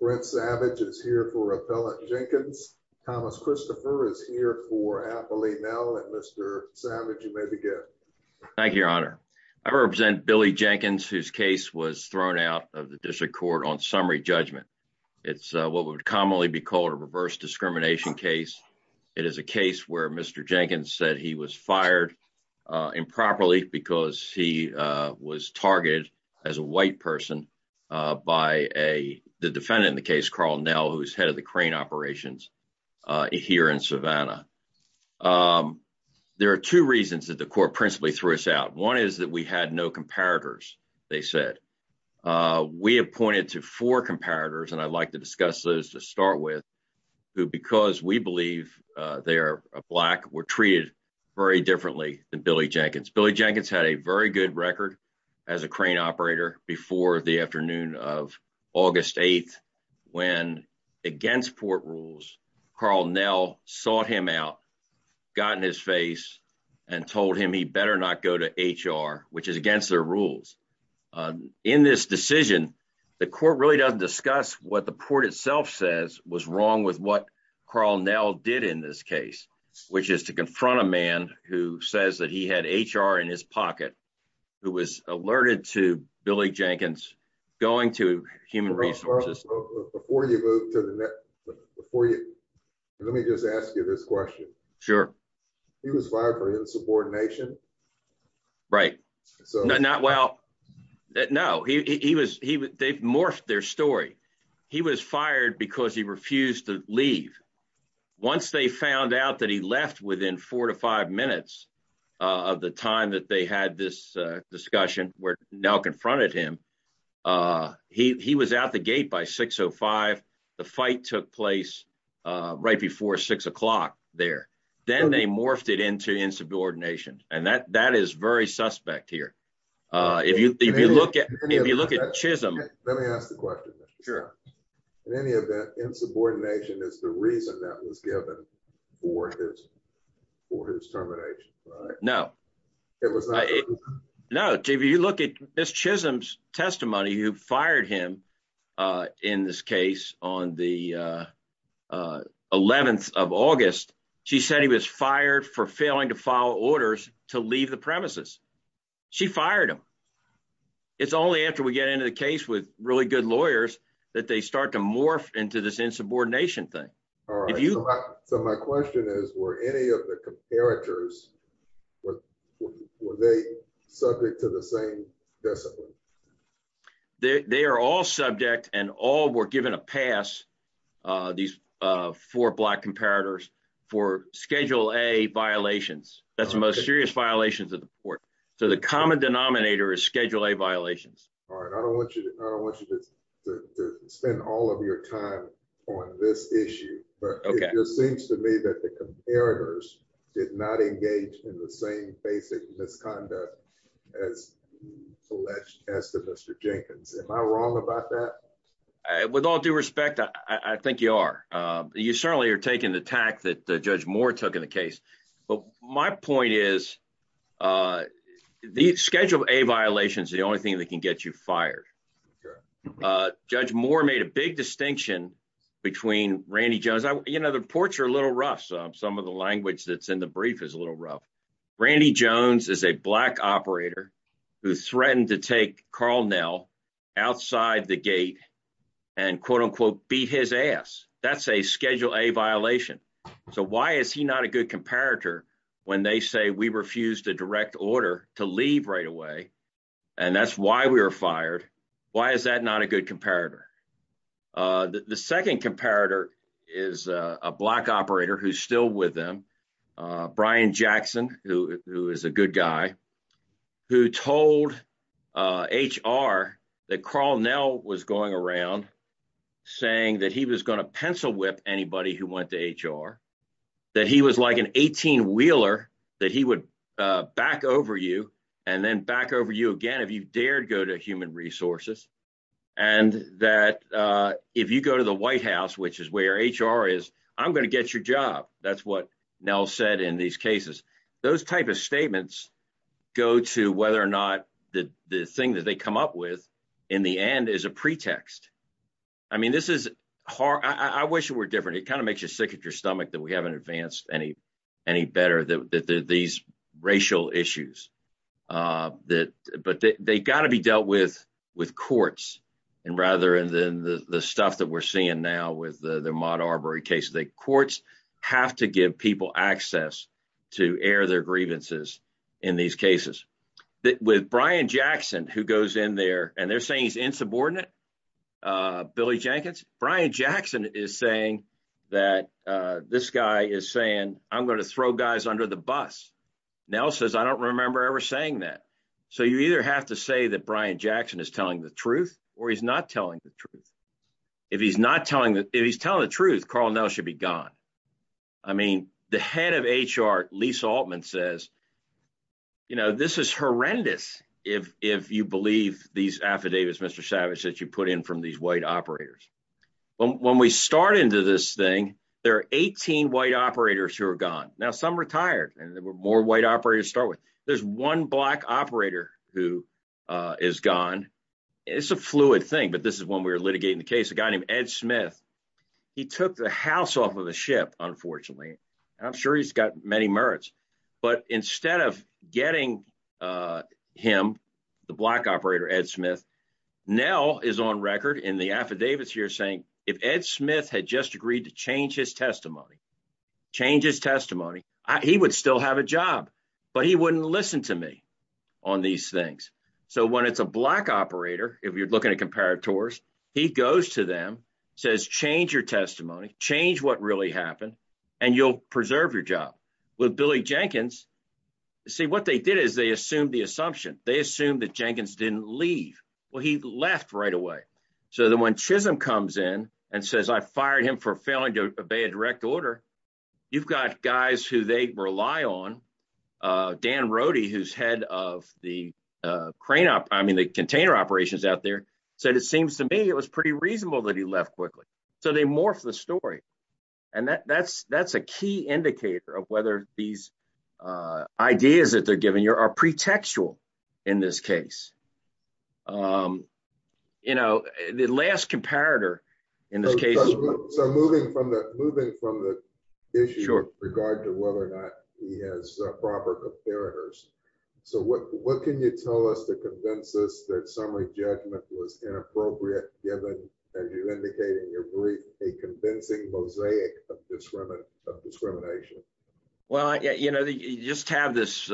Brett Savage is here for Appellant Jenkins. Thomas Christopher is here for Appellee Nell and Mr. Savage, you may begin. Thank you, Your Honor. I represent Billy Jenkins, whose case was thrown out of the District Court on summary judgment. It's what would commonly be called a reverse discrimination case. It is a case where Mr. Jenkins said he was fired improperly because he was targeted as a white person by the defendant in the case, Karl Nell, who is head of the crane operations here in Savannah. There are two reasons that the court principally threw us out. One is that we had no comparators, they said. We have pointed to four comparators, and I'd like to discuss those to start with, who, because we believe they are black, were treated very differently than Billy Jenkins. Billy Jenkins had a very good record as a crane operator before the afternoon of August 8th when, against court rules, Karl Nell sought him out, got in his face, and told him he better not go to HR, which is against their rules. In this decision, the court really doesn't discuss what the court itself says was wrong with what Karl Nell did in this case, which is to confront a man who says that he had HR in his pocket, who was alerted to Billy Jenkins going to human resources. Before you move to the next, let me just ask you this question. Sure. He was fired for insubordination. Right. Well, no. They've morphed their story. He was fired because he refused to leave. Once they found out that he left within four to five minutes of the time that they had this discussion where Nell confronted him, he was out the gate by 6.05. The fight took place right before six o'clock there. Then they morphed it into insubordination, and that is very suspect here. If you look at Chisholm... Let me ask the question. Sure. In any event, insubordination is the reason that was given for his termination, right? No. It was not... No. If you look at Ms. Chisholm's testimony who fired him in this case on the 11th of August, she said he was fired for failing to follow orders to leave the premises. She fired him. It's only after we get into the case with really good lawyers that they start to morph into this insubordination thing. So my question is, were any of the comparators, were they subject to the same discipline? They are all subject and all were given a pass, these four black comparators, for Schedule A violations. That's the most serious violations of the court. So the common denominator is Schedule A violations. All right. I don't want you to spend all of your time on this issue, but it just seems to me that the comparators did not engage in the same basic misconduct as to Mr. Jenkins. Am I wrong about that? With all due respect, I think you are. You certainly are taking the tack that Judge Moore took in the case. But my point is the Schedule A violation is the only thing that can get you fired. Judge Moore made a big distinction between Randy Jones. You know, the reports are a little rough. Some of the language that's in the brief is a little rough. Randy Jones is a black operator who threatened to take Carl Nell outside the gate and, quote unquote, beat his ass. That's a Schedule A violation. So why is he not a good comparator when they say we refuse to direct order to leave right away and that's why we were fired? Why is that not a good comparator? The second comparator is a black operator who's still with them. Brian Jackson, who is a good guy, who told HR that Carl Nell was going around saying that he was going to pencil whip anybody who went to HR, that he was like an 18-wheeler, that he would back over you and then back over you again if you dared go to human resources, and that if you go to the White House, which is where HR is, I'm going to get your job. That's what Nell said in these cases. Those type of statements go to whether or not the thing that they come up with in the end is a pretext. I mean, this is hard. I wish it were different. It kind of makes you sick at your stomach that we haven't advanced any better, these racial issues. But they've got to be dealt with courts rather than the stuff that we're seeing now with the Maud Arbery case. Courts have to give people access to air their grievances in these cases. With Brian Jackson, who goes in there and they're saying he's insubordinate, Billy Jenkins, Brian Jackson is saying that this guy is saying, I'm going to throw guys under the bus. Nell says, I don't remember ever saying that. So you either have to say that Brian Jackson is telling the truth or he's not telling the truth. If he's telling the truth, Carl Nell should be gone. I mean, the head of HR, Lisa Altman, says, you know, this is horrendous. If you believe these affidavits, Mr. Savage, that you put in from these white operators. When we start into this thing, there are 18 white operators who are gone. Now, some retired and there were more white operators to start with. There's one black operator who is gone. It's a fluid thing, but this is when we were litigating the case, a guy named Ed Smith. He took the house off of the ship, unfortunately. I'm sure he's got many merits. But instead of getting him, the black operator, Ed Smith, Nell is on record in the affidavits here saying if Ed Smith had just agreed to change his testimony, change his testimony, he would still have a job. But he wouldn't listen to me on these things. So when it's a black operator, if you're looking at comparators, he goes to them, says, change your testimony, change what really happened. And you'll preserve your job with Billy Jenkins. See, what they did is they assumed the assumption. They assumed that Jenkins didn't leave. Well, he left right away. So then when Chisholm comes in and says I fired him for failing to obey a direct order. You've got guys who they rely on. Dan Rody who's head of the crane up I mean the container operations out there. So it seems to me it was pretty reasonable that he left quickly. So they morph the story. And that's, that's a key indicator of whether these ideas that they're giving you are pre textual. In this case, you know, the last comparator. So moving from that moving from the issue of regard to whether or not he has proper comparators. So what what can you tell us to convince us that summary judgment was inappropriate given, as you indicated in your brief, a convincing mosaic of discrimination of discrimination. Well, yeah, you know, you just have this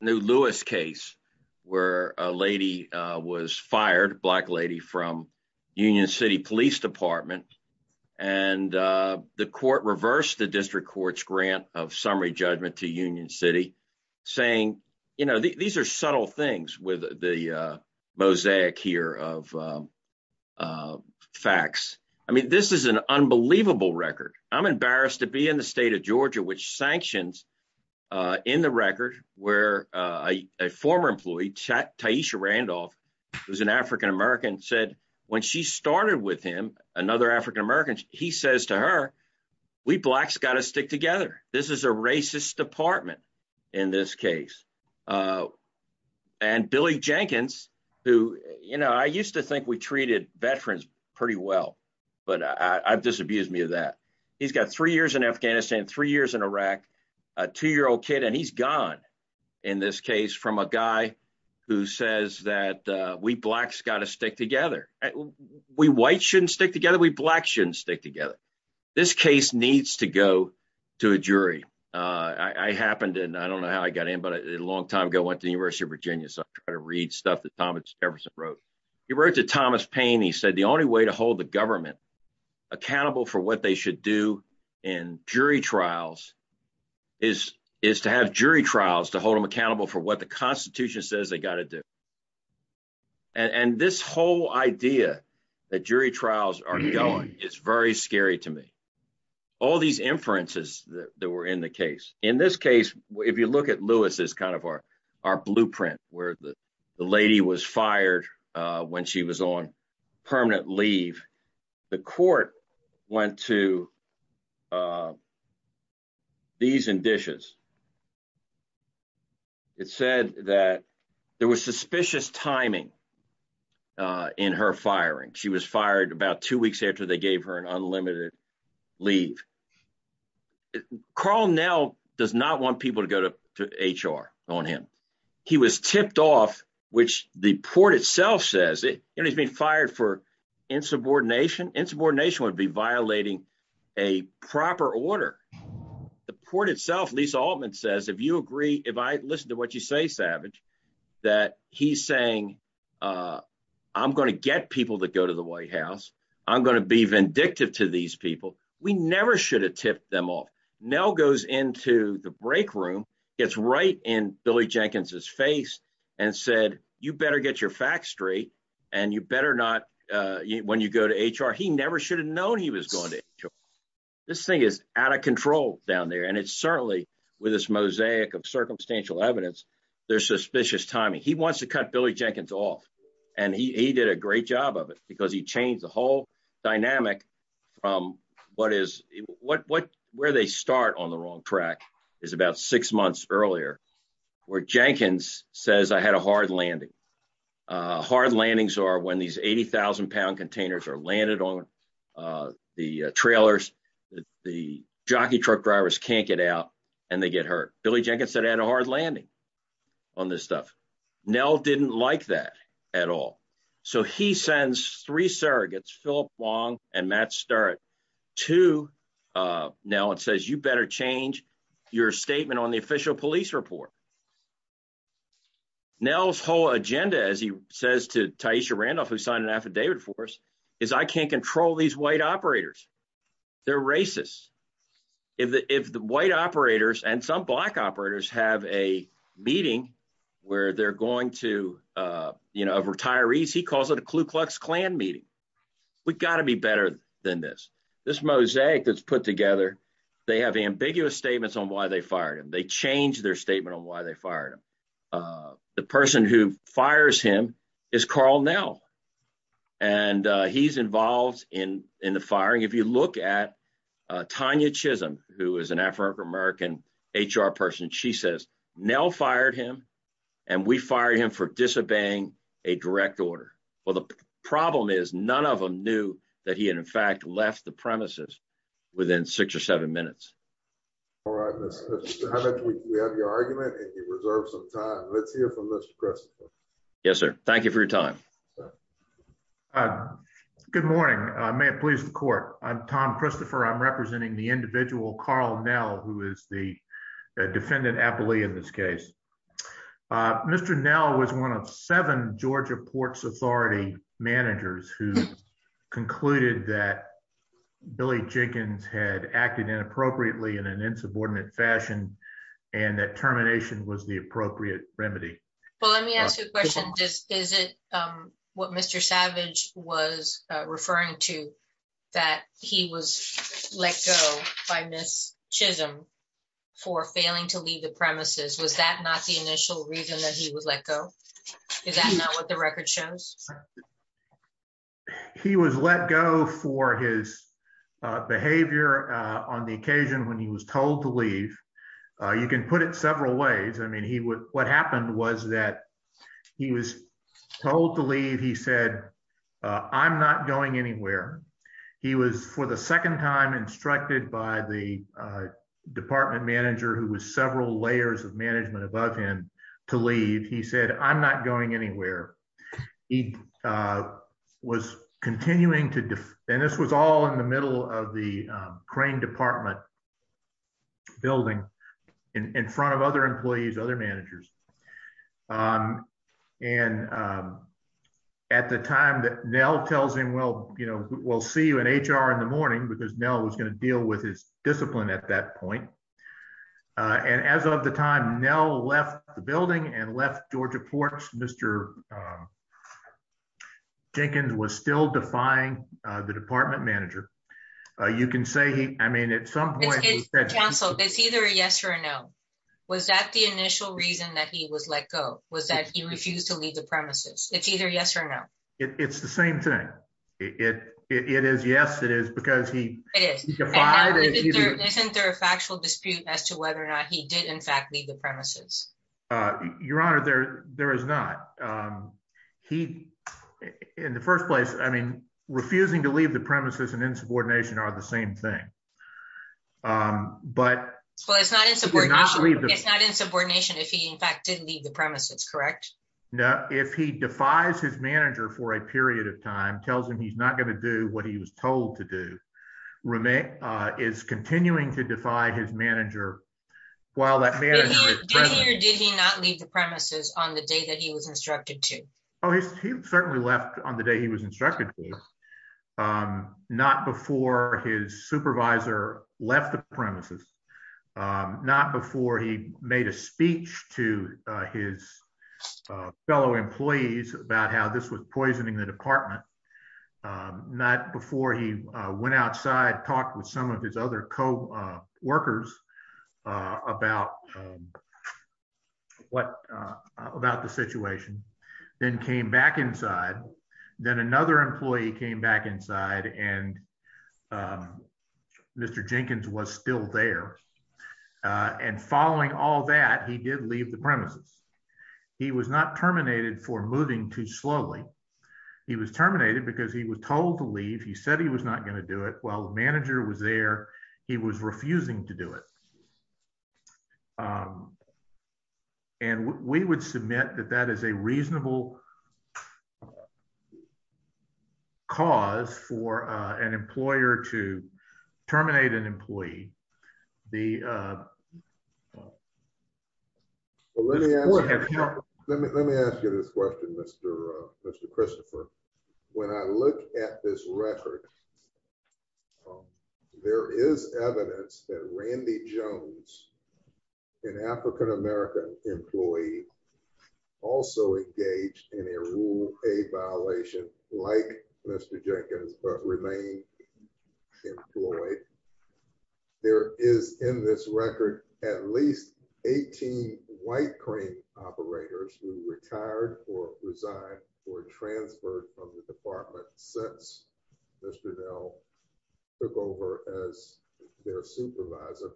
new Lewis case where a lady was fired black lady from Union City Police Department. And the court reversed the district courts grant of summary judgment to Union City, saying, you know, these are subtle things with the mosaic here of facts. I mean, this is an unbelievable record, I'm embarrassed to be in the state of Georgia which sanctions in the record, where a former employee chat taisha Randolph, who's an African American said when she started with him, another African American, he says to her. We blacks got to stick together. This is a racist department. In this case, and Billy Jenkins, who, you know, I used to think we treated veterans. Pretty well, but I've disabused me of that. He's got three years in Afghanistan, three years in Iraq, a two year old kid and he's gone. In this case from a guy who says that we blacks got to stick together. We white shouldn't stick together we black shouldn't stick together. This case needs to go to a jury. I happened and I don't know how I got in but a long time ago went to University of Virginia so I'm trying to read stuff that Thomas Everson wrote, he wrote to Thomas pain he said the only way to hold the government accountable for what they should do in jury trials is, is to have jury trials to hold them accountable for what the Constitution says they got to do. And this whole idea that jury trials are going, it's very scary to me. All these inferences that were in the case. In this case, if you look at Lewis is kind of our, our blueprint, where the lady was fired. When she was on permanent leave the court went to these and dishes. It said that there was suspicious timing in her firing she was fired about two weeks after they gave her an unlimited leave. Carl now does not want people to go to HR on him. He was tipped off, which the port itself says it, and he's been fired for insubordination insubordination would be violating a proper order. The port itself Lisa Altman says if you agree, if I listen to what you say savage that he's saying, I'm going to get people to go to the White House. I'm going to be vindictive to these people. We never should have tipped them off. Now goes into the break room. It's right in Billy Jenkins his face and said, you better get your facts straight, and you better not. When you go to HR he never should have known he was going to. This thing is out of control down there and it's certainly with this mosaic of circumstantial evidence. There's suspicious timing he wants to cut Billy Jenkins off, and he did a great job of it because he changed the whole dynamic from what is what where they start on the wrong track is about six months earlier, where Jenkins says I had a hard landing hard landings are when these 80,000 pound containers are landed on the trailers, the jockey truck drivers can't get out, and they get hurt, Billy Jenkins said I had a hard landing on this stuff. Now didn't like that at all. So he sends three surrogates Philip Wong and Matt start to. Now it says you better change your statement on the official police report. Now his whole agenda as he says to Tysha Randolph who signed an affidavit for us is I can't control these white operators. They're racist. If the white operators and some black operators have a meeting where they're going to, you know, retirees he calls it a Ku Klux Klan meeting. We got to be better than this. This mosaic that's put together. They have ambiguous statements on why they fired him they change their statement on why they fired him. The person who fires him is called now. And he's involved in in the firing if you look at Tanya Chisholm, who is an African American HR person she says now fired him. And we fired him for disobeying a direct order. Well the problem is none of them knew that he had in fact left the premises within six or seven minutes. All right, let's hear from this person. Yes, sir. Thank you for your time. Good morning, may it please the court. I'm Tom Christopher I'm representing the individual Carl now who is the defendant happily in this case. Mr. Now was one of seven Georgia Ports Authority managers who concluded that Billy Jenkins had acted inappropriately in an insubordinate fashion, and that termination was the appropriate remedy. Well, let me ask you a question. Is it what Mr. Savage was referring to that he was let go by Miss Chisholm for failing to leave the premises was that not the initial reason that he was let go. Is that not what the record shows. He was let go for his behavior. On the occasion when he was told to leave. You can put it several ways. I mean he would what happened was that he was told to leave. He said, I'm not going anywhere. He was for the second time instructed by the department manager who was several layers of management above him to leave he said I'm not going anywhere. He was continuing to do, and this was all in the middle of the crane department building in front of other employees other managers. And at the time that Nell tells him well, you know, we'll see you in HR in the morning because Nell was going to deal with his discipline at that point. And as of the time Nell left the building and left Georgia Ports, Mr. Jenkins was still defying the department manager. You can say he, I mean at some point, so it's either a yes or no. Was that the initial reason that he was let go, was that he refused to leave the premises, it's either yes or no. It's the same thing. It is yes it is because he isn't there a factual dispute as to whether or not he did in fact leave the premises. Your Honor there, there is not. He, in the first place, I mean, refusing to leave the premises and insubordination are the same thing. But it's not it's not it's not insubordination if he in fact didn't leave the premises correct know if he defies his manager for a period of time tells him he's not going to do what he was told to do remain is continuing to defy his manager. While that man. Did he not leave the premises on the day that he was instructed to. Oh, he certainly left on the day he was instructed. Not before his supervisor left the premises. Not before he made a speech to his fellow employees about how this was poisoning the department. Not before he went outside talk with some of his other co workers about what about the situation, then came back inside. Then another employee came back inside and Mr Jenkins was still there. And following all that he did leave the premises. He was not terminated for moving too slowly. He was terminated because he was told to leave he said he was not going to do it well manager was there. He was refusing to do it. And we would submit that that is a reasonable cause for an employer to terminate an employee. The Let me ask you this question, Mr. Mr Christopher. When I look at this record. There is evidence that Randy Jones, an African American employee also engaged in a rule a violation like Mr Jenkins, but remain Employee. There is in this record, at least 18 white crane operators who retired or resign or transferred from the department since Mr now took over as their supervisor.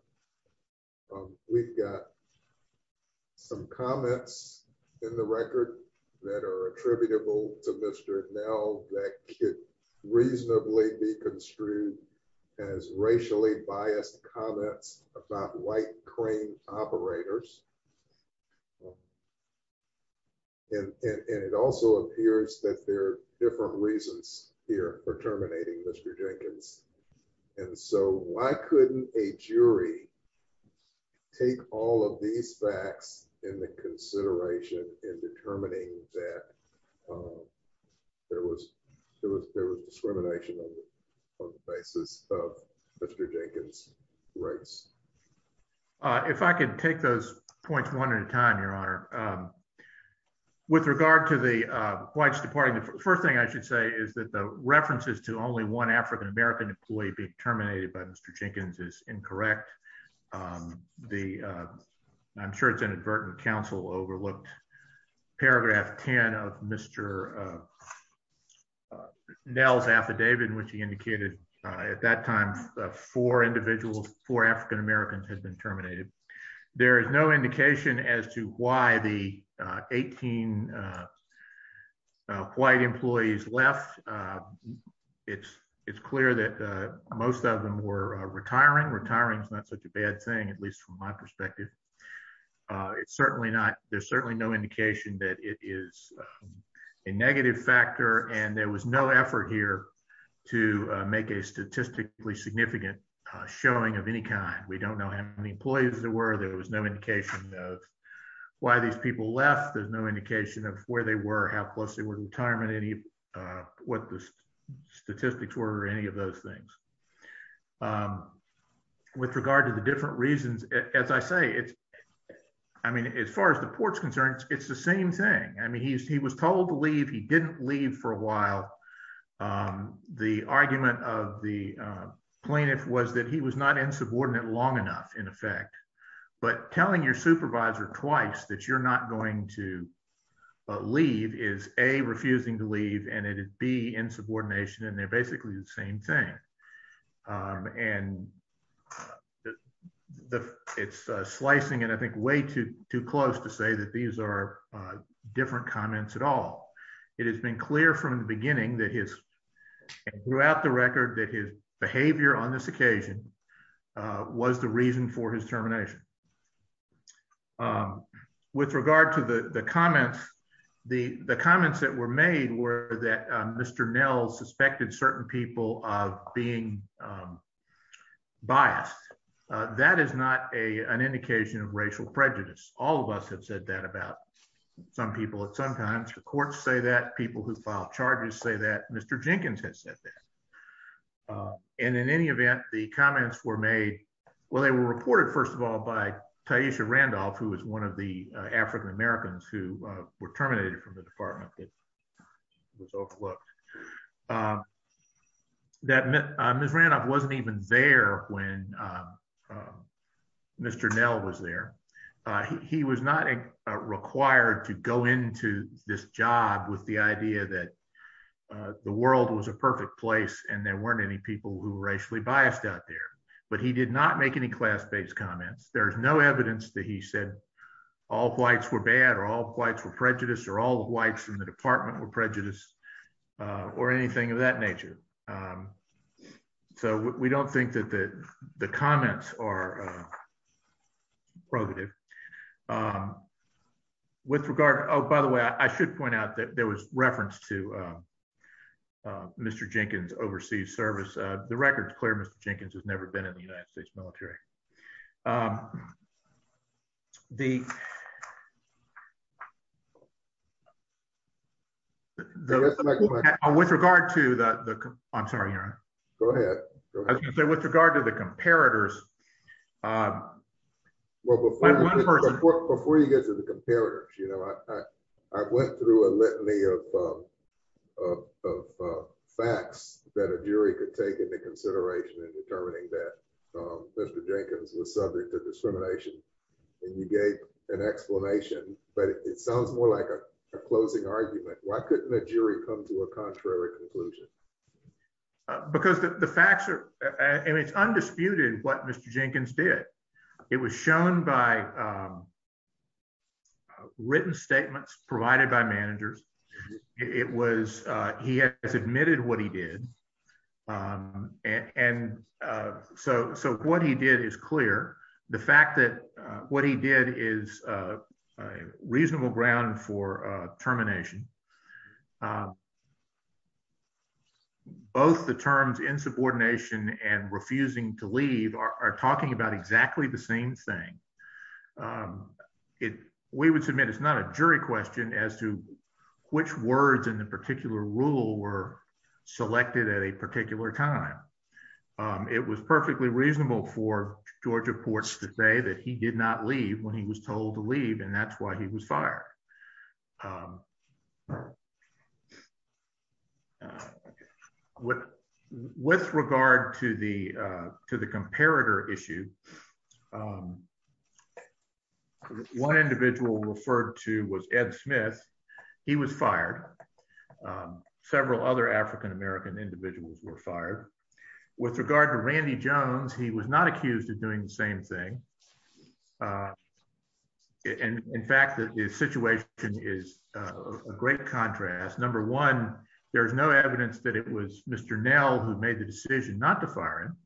We've got some comments in the record that are attributable to Mr. Now that could reasonably be construed as racially biased comments about white crane operators. And it also appears that there are different reasons here for terminating Mr Jenkins. And so why couldn't a jury. Take all of these facts in the consideration in determining that There was there was there was discrimination on the basis of Mr Jenkins rights. If I could take those points one at a time, Your Honor. With regard to the whites departing the first thing I should say is that the references to only one African American employee be terminated by Mr Jenkins is incorrect. The I'm sure it's inadvertent counsel overlooked paragraph 10 of Mr Nels affidavit, which he indicated at that time for individuals for African Americans has been terminated. There is no indication as to why the 18 White employees left. It's, it's clear that most of them were retiring retiring. It's not such a bad thing, at least from my perspective. It's certainly not. There's certainly no indication that it is a negative factor. And there was no effort here to make a statistically significant Showing of any kind. We don't know how many employees that were there was no indication of why these people left. There's no indication of where they were, how close they were to retirement any what the statistics were any of those things. With regard to the different reasons, as I say, it's, I mean, as far as the ports concerned, it's the same thing. I mean, he was he was told to leave. He didn't leave for a while. The argument of the plaintiff was that he was not in subordinate long enough, in effect, but telling your supervisor twice that you're not going to leave is a refusing to leave and it'd be in subordination and they're basically the same thing. And The it's slicing and I think way too too close to say that these are different comments at all. It has been clear from the beginning that his throughout the record that his behavior on this occasion was the reason for his termination. With regard to the, the comments, the, the comments that were made were that Mr. Nell suspected certain people of being Biased that is not a an indication of racial prejudice. All of us have said that about some people at sometimes the courts say that people who filed charges say that Mr. Jenkins has said that And in any event, the comments were made. Well, they were reported. First of all, by Taisha Randolph, who was one of the African Americans who were terminated from the department. Was overlooked. That Miss Randolph wasn't even there when Mr. Nell was there. He was not required to go into this job with the idea that The world was a perfect place and there weren't any people who racially biased out there, but he did not make any class based comments. There's no evidence that he said all whites were bad or all whites were prejudice or all whites in the department were prejudice or anything of that nature. So we don't think that that the comments are Provative With regard. Oh, by the way, I should point out that there was reference to Mr. Jenkins overseas service. The record is clear. Mr. Jenkins has never been in the United States military The With regard to that. I'm sorry. Go ahead. With regard to the comparators Well, Before you get to the comparators, you know, I went through a litany of Facts that a jury could take into consideration and determining that Mr. Jenkins was subject to discrimination and you gave an explanation, but it sounds more like a closing argument. Why couldn't a jury come to a contrary conclusion. Because the facts are and it's undisputed what Mr. Jenkins did. It was shown by Written statements provided by managers. It was he has admitted what he did. And so, so what he did is clear. The fact that what he did is a reasonable ground for termination. Both the terms insubordination and refusing to leave are talking about exactly the same thing. It, we would submit. It's not a jury question as to which words in the particular rule were selected at a particular time. It was perfectly reasonable for Georgia ports today that he did not leave when he was told to leave. And that's why he was fired. With with regard to the to the comparator issue. One individual referred to was Ed Smith. He was fired. Several other African American individuals were fired with regard to Randy Jones. He was not accused of doing the same thing. And in fact, the situation is a great contrast. Number one, there's no evidence that it was Mr. Nell who made the decision not to fire him.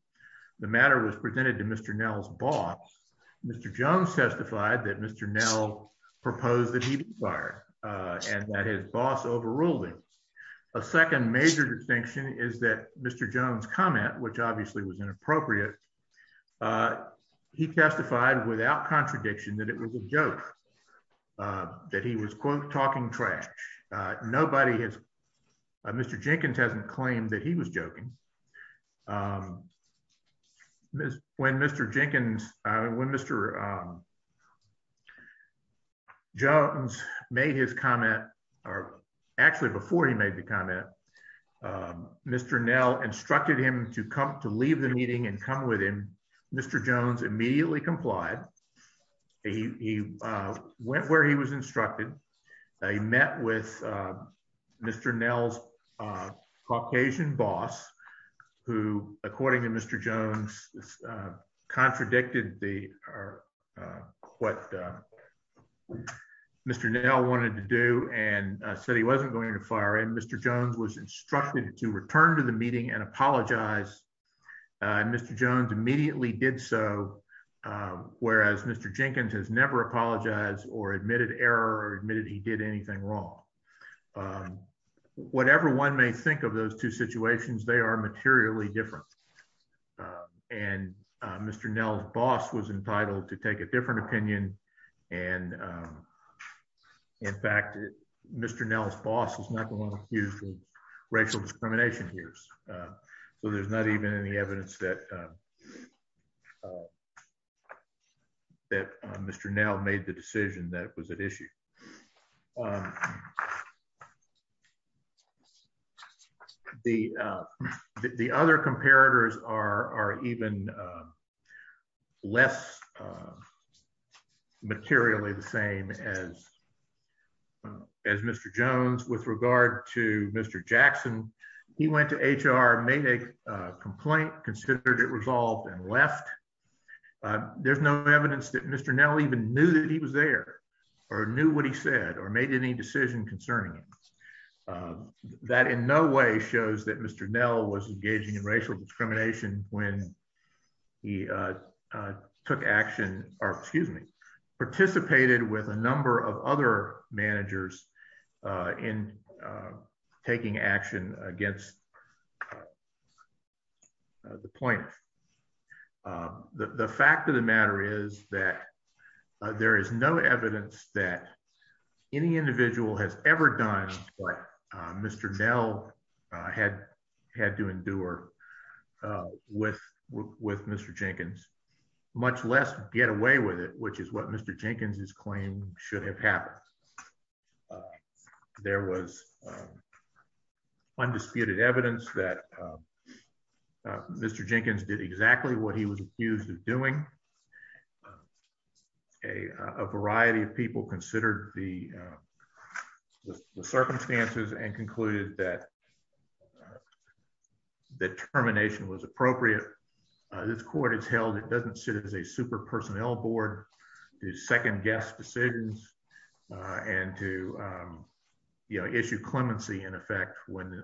The matter was presented to Mr. Nell's boss, Mr. Jones testified that Mr. Nell proposed that he fired and that his boss overruled him. A second major distinction is that Mr. Jones comment, which obviously was inappropriate. He testified without contradiction that it was a joke that he was quote talking trash. Nobody has Mr. Jenkins hasn't claimed that he was joking. When Mr. Jenkins when Mr. Jones made his comment or actually before he made the comment. Mr. Nell instructed him to come to leave the meeting and come with him. Mr. Jones immediately complied. He went where he was instructed. I met with Mr. Nell's Caucasian boss who, according to Mr. Jones contradicted the what Mr. Nell wanted to do and said he wasn't going to fire him. Mr. Jones was instructed to return to the meeting and apologize. Mr. Jones immediately did so, whereas Mr. Jenkins has never apologized or admitted error or admitted he did anything wrong. Whatever one may think of those two situations, they are materially different. And Mr. Nell's boss was entitled to take a different opinion. And in fact, Mr. Nell's boss is not going to use racial discrimination here. So there's not even any evidence that that Mr. Nell made the decision that was at issue. The other comparators are even less materially the same as as Mr. Jones with regard to Mr. Jackson. He went to HR, made a complaint, considered it resolved and left. There's no evidence that Mr. Nell even knew that he was there or knew what he said or made any decision concerning him. That in no way shows that Mr. Nell was engaging in racial discrimination when he took action or, excuse me, participated with a number of other managers in taking action against the plaintiff. The fact of the matter is that there is no evidence that any individual has ever done what Mr. Nell had had to endure with with Mr. Jenkins, much less get away with it, which is what Mr. Jenkins's claim should have happened. There was undisputed evidence that Mr. Jenkins did exactly what he was accused of doing. A variety of people considered the circumstances and concluded that determination was appropriate. This court has held it doesn't sit as a super personnel board to second guess decisions and to issue clemency in effect when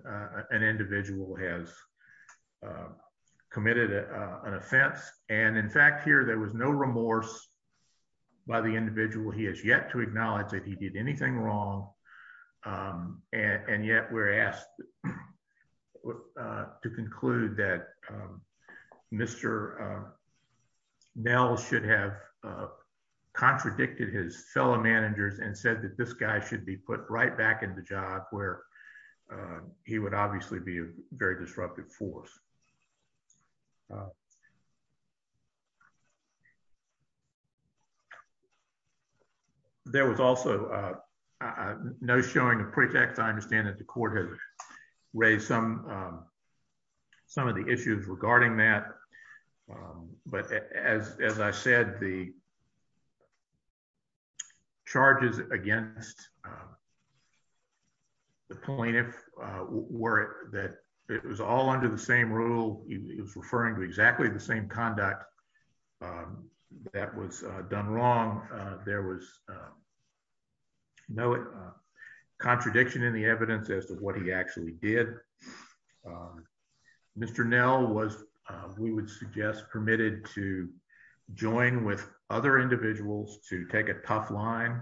an individual has committed an offense. And in fact, here there was no remorse by the individual. He has yet to acknowledge that he did anything wrong. And yet we're asked to conclude that Mr. Nell should have contradicted his fellow managers and said that this guy should be put right back in the job where he would obviously be a very disruptive force. There was also no showing of pretext. I understand that the court has raised some of the issues regarding that. But as I said, the charges against the plaintiff were that it was all under the same rule. It was referring to exactly the same conduct that was done wrong. There was no contradiction in the evidence as to what he actually did. Mr. Nell was, we would suggest, permitted to join with other individuals to take a tough line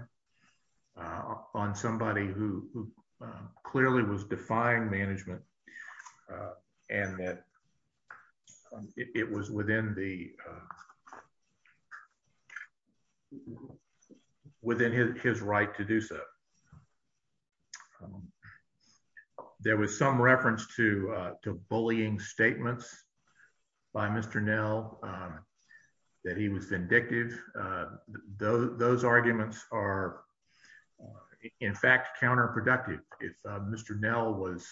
on somebody who clearly was defying management and that it was within the within his right to do so. There was some reference to bullying statements by Mr. Nell that he was vindictive. Those arguments are, in fact, counterproductive. If Mr. Nell was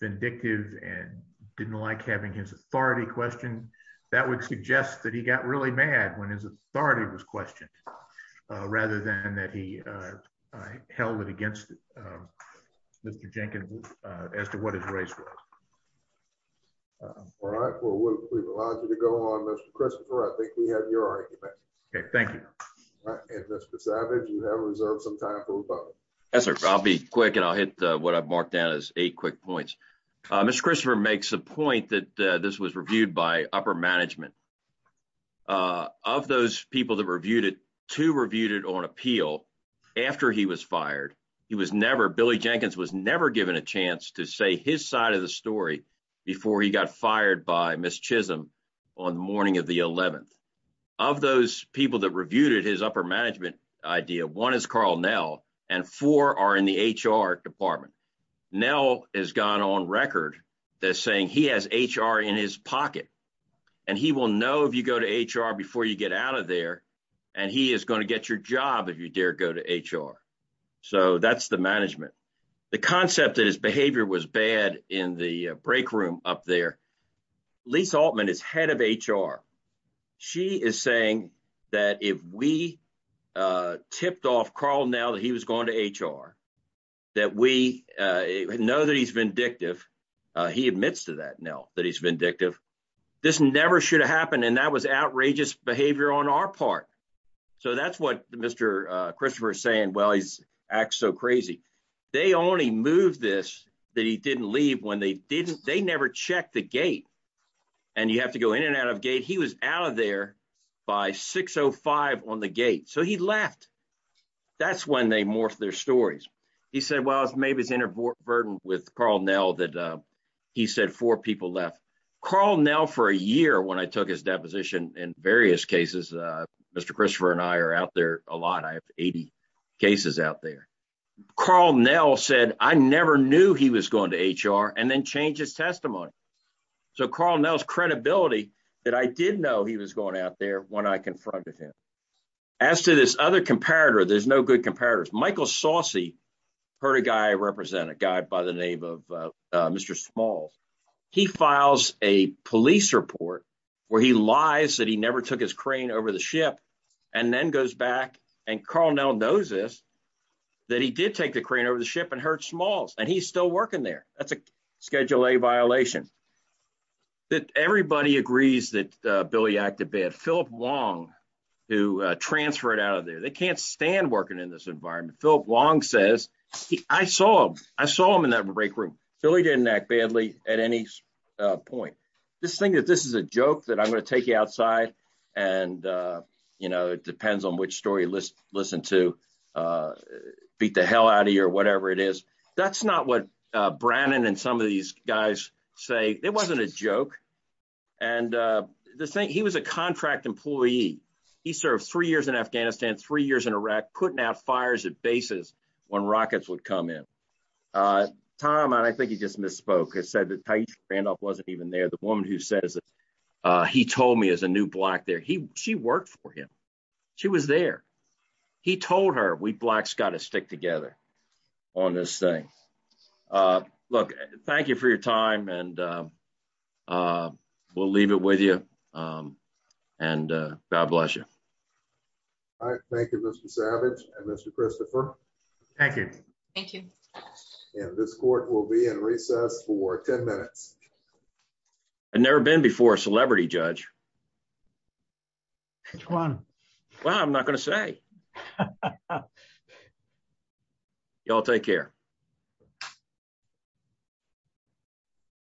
vindictive and didn't like having his authority questioned, that would suggest that he got really mad when his authority was questioned rather than that he held it against Mr. Jenkins as to what his race was. All right. Well, we've allowed you to go on, Mr. Christopher. I think we have your argument. Okay, thank you. And Mr. Savage, you have reserved some time for rebuttal. Yes, sir. I'll be quick and I'll hit what I've marked down as eight quick points. Mr. Christopher makes the point that this was reviewed by upper management. Of those people that reviewed it, two reviewed it on appeal after he was fired. He was never, Billy Jenkins was never given a chance to say his side of the story before he got fired by Miss Chisholm on the morning of the 11th. Of those people that reviewed it, his upper management idea, one is Carl Nell and four are in the HR department. Nell has gone on record that saying he has HR in his pocket and he will know if you go to HR before you get out of there. And he is going to get your job if you dare go to HR. So that's the management. The concept that his behavior was bad in the break room up there. Lisa Altman is head of HR. She is saying that if we tipped off Carl now that he was going to HR, that we know that he's vindictive. He admits to that now that he's vindictive. This never should have happened. And that was outrageous behavior on our part. So that's what Mr. Christopher is saying. Well, he's act so crazy. They only moved this that he didn't leave when they didn't. They never checked the gate and you have to go in and out of gate. He was out of there by six or five on the gate. So he left. That's when they morphed their stories. He said, well, maybe it's inadvertent with Carl Nell that he said four people left Carl Nell for a year. When I took his deposition in various cases, Mr. Christopher and I are out there a lot. I have 80 cases out there. Carl Nell said I never knew he was going to HR and then change his testimony. So Carl Nell's credibility that I did know he was going out there when I confronted him. As to this other comparator, there's no good comparators. Michael Saucy heard a guy represent a guy by the name of Mr. Smalls. He files a police report where he lies that he never took his crane over the ship and then goes back. And Carl Nell knows this, that he did take the crane over the ship and hurt Smalls and he's still working there. That's a Schedule A violation. Everybody agrees that Billy acted bad. Philip Wong, who transferred out of there, they can't stand working in this environment. Philip Wong says I saw him. I saw him in that break room. Billy didn't act badly at any point. This thing that this is a joke that I'm going to take you outside. And, you know, it depends on which story you listen to beat the hell out of you or whatever it is. But that's not what Brannon and some of these guys say. It wasn't a joke. And the thing he was a contract employee. He served three years in Afghanistan, three years in Iraq, putting out fires at bases when rockets would come in. Tom, I think you just misspoke. I said that Randy Randolph wasn't even there. The woman who says that he told me as a new black there, he she worked for him. She was there. He told her we blacks got to stick together on this thing. Look, thank you for your time and we'll leave it with you. And God bless you. Thank you, Mr. Savage and Mr. Christopher. Thank you. Thank you. This court will be in recess for 10 minutes. I've never been before a celebrity judge. One. Well, I'm not going to say. Y'all take care.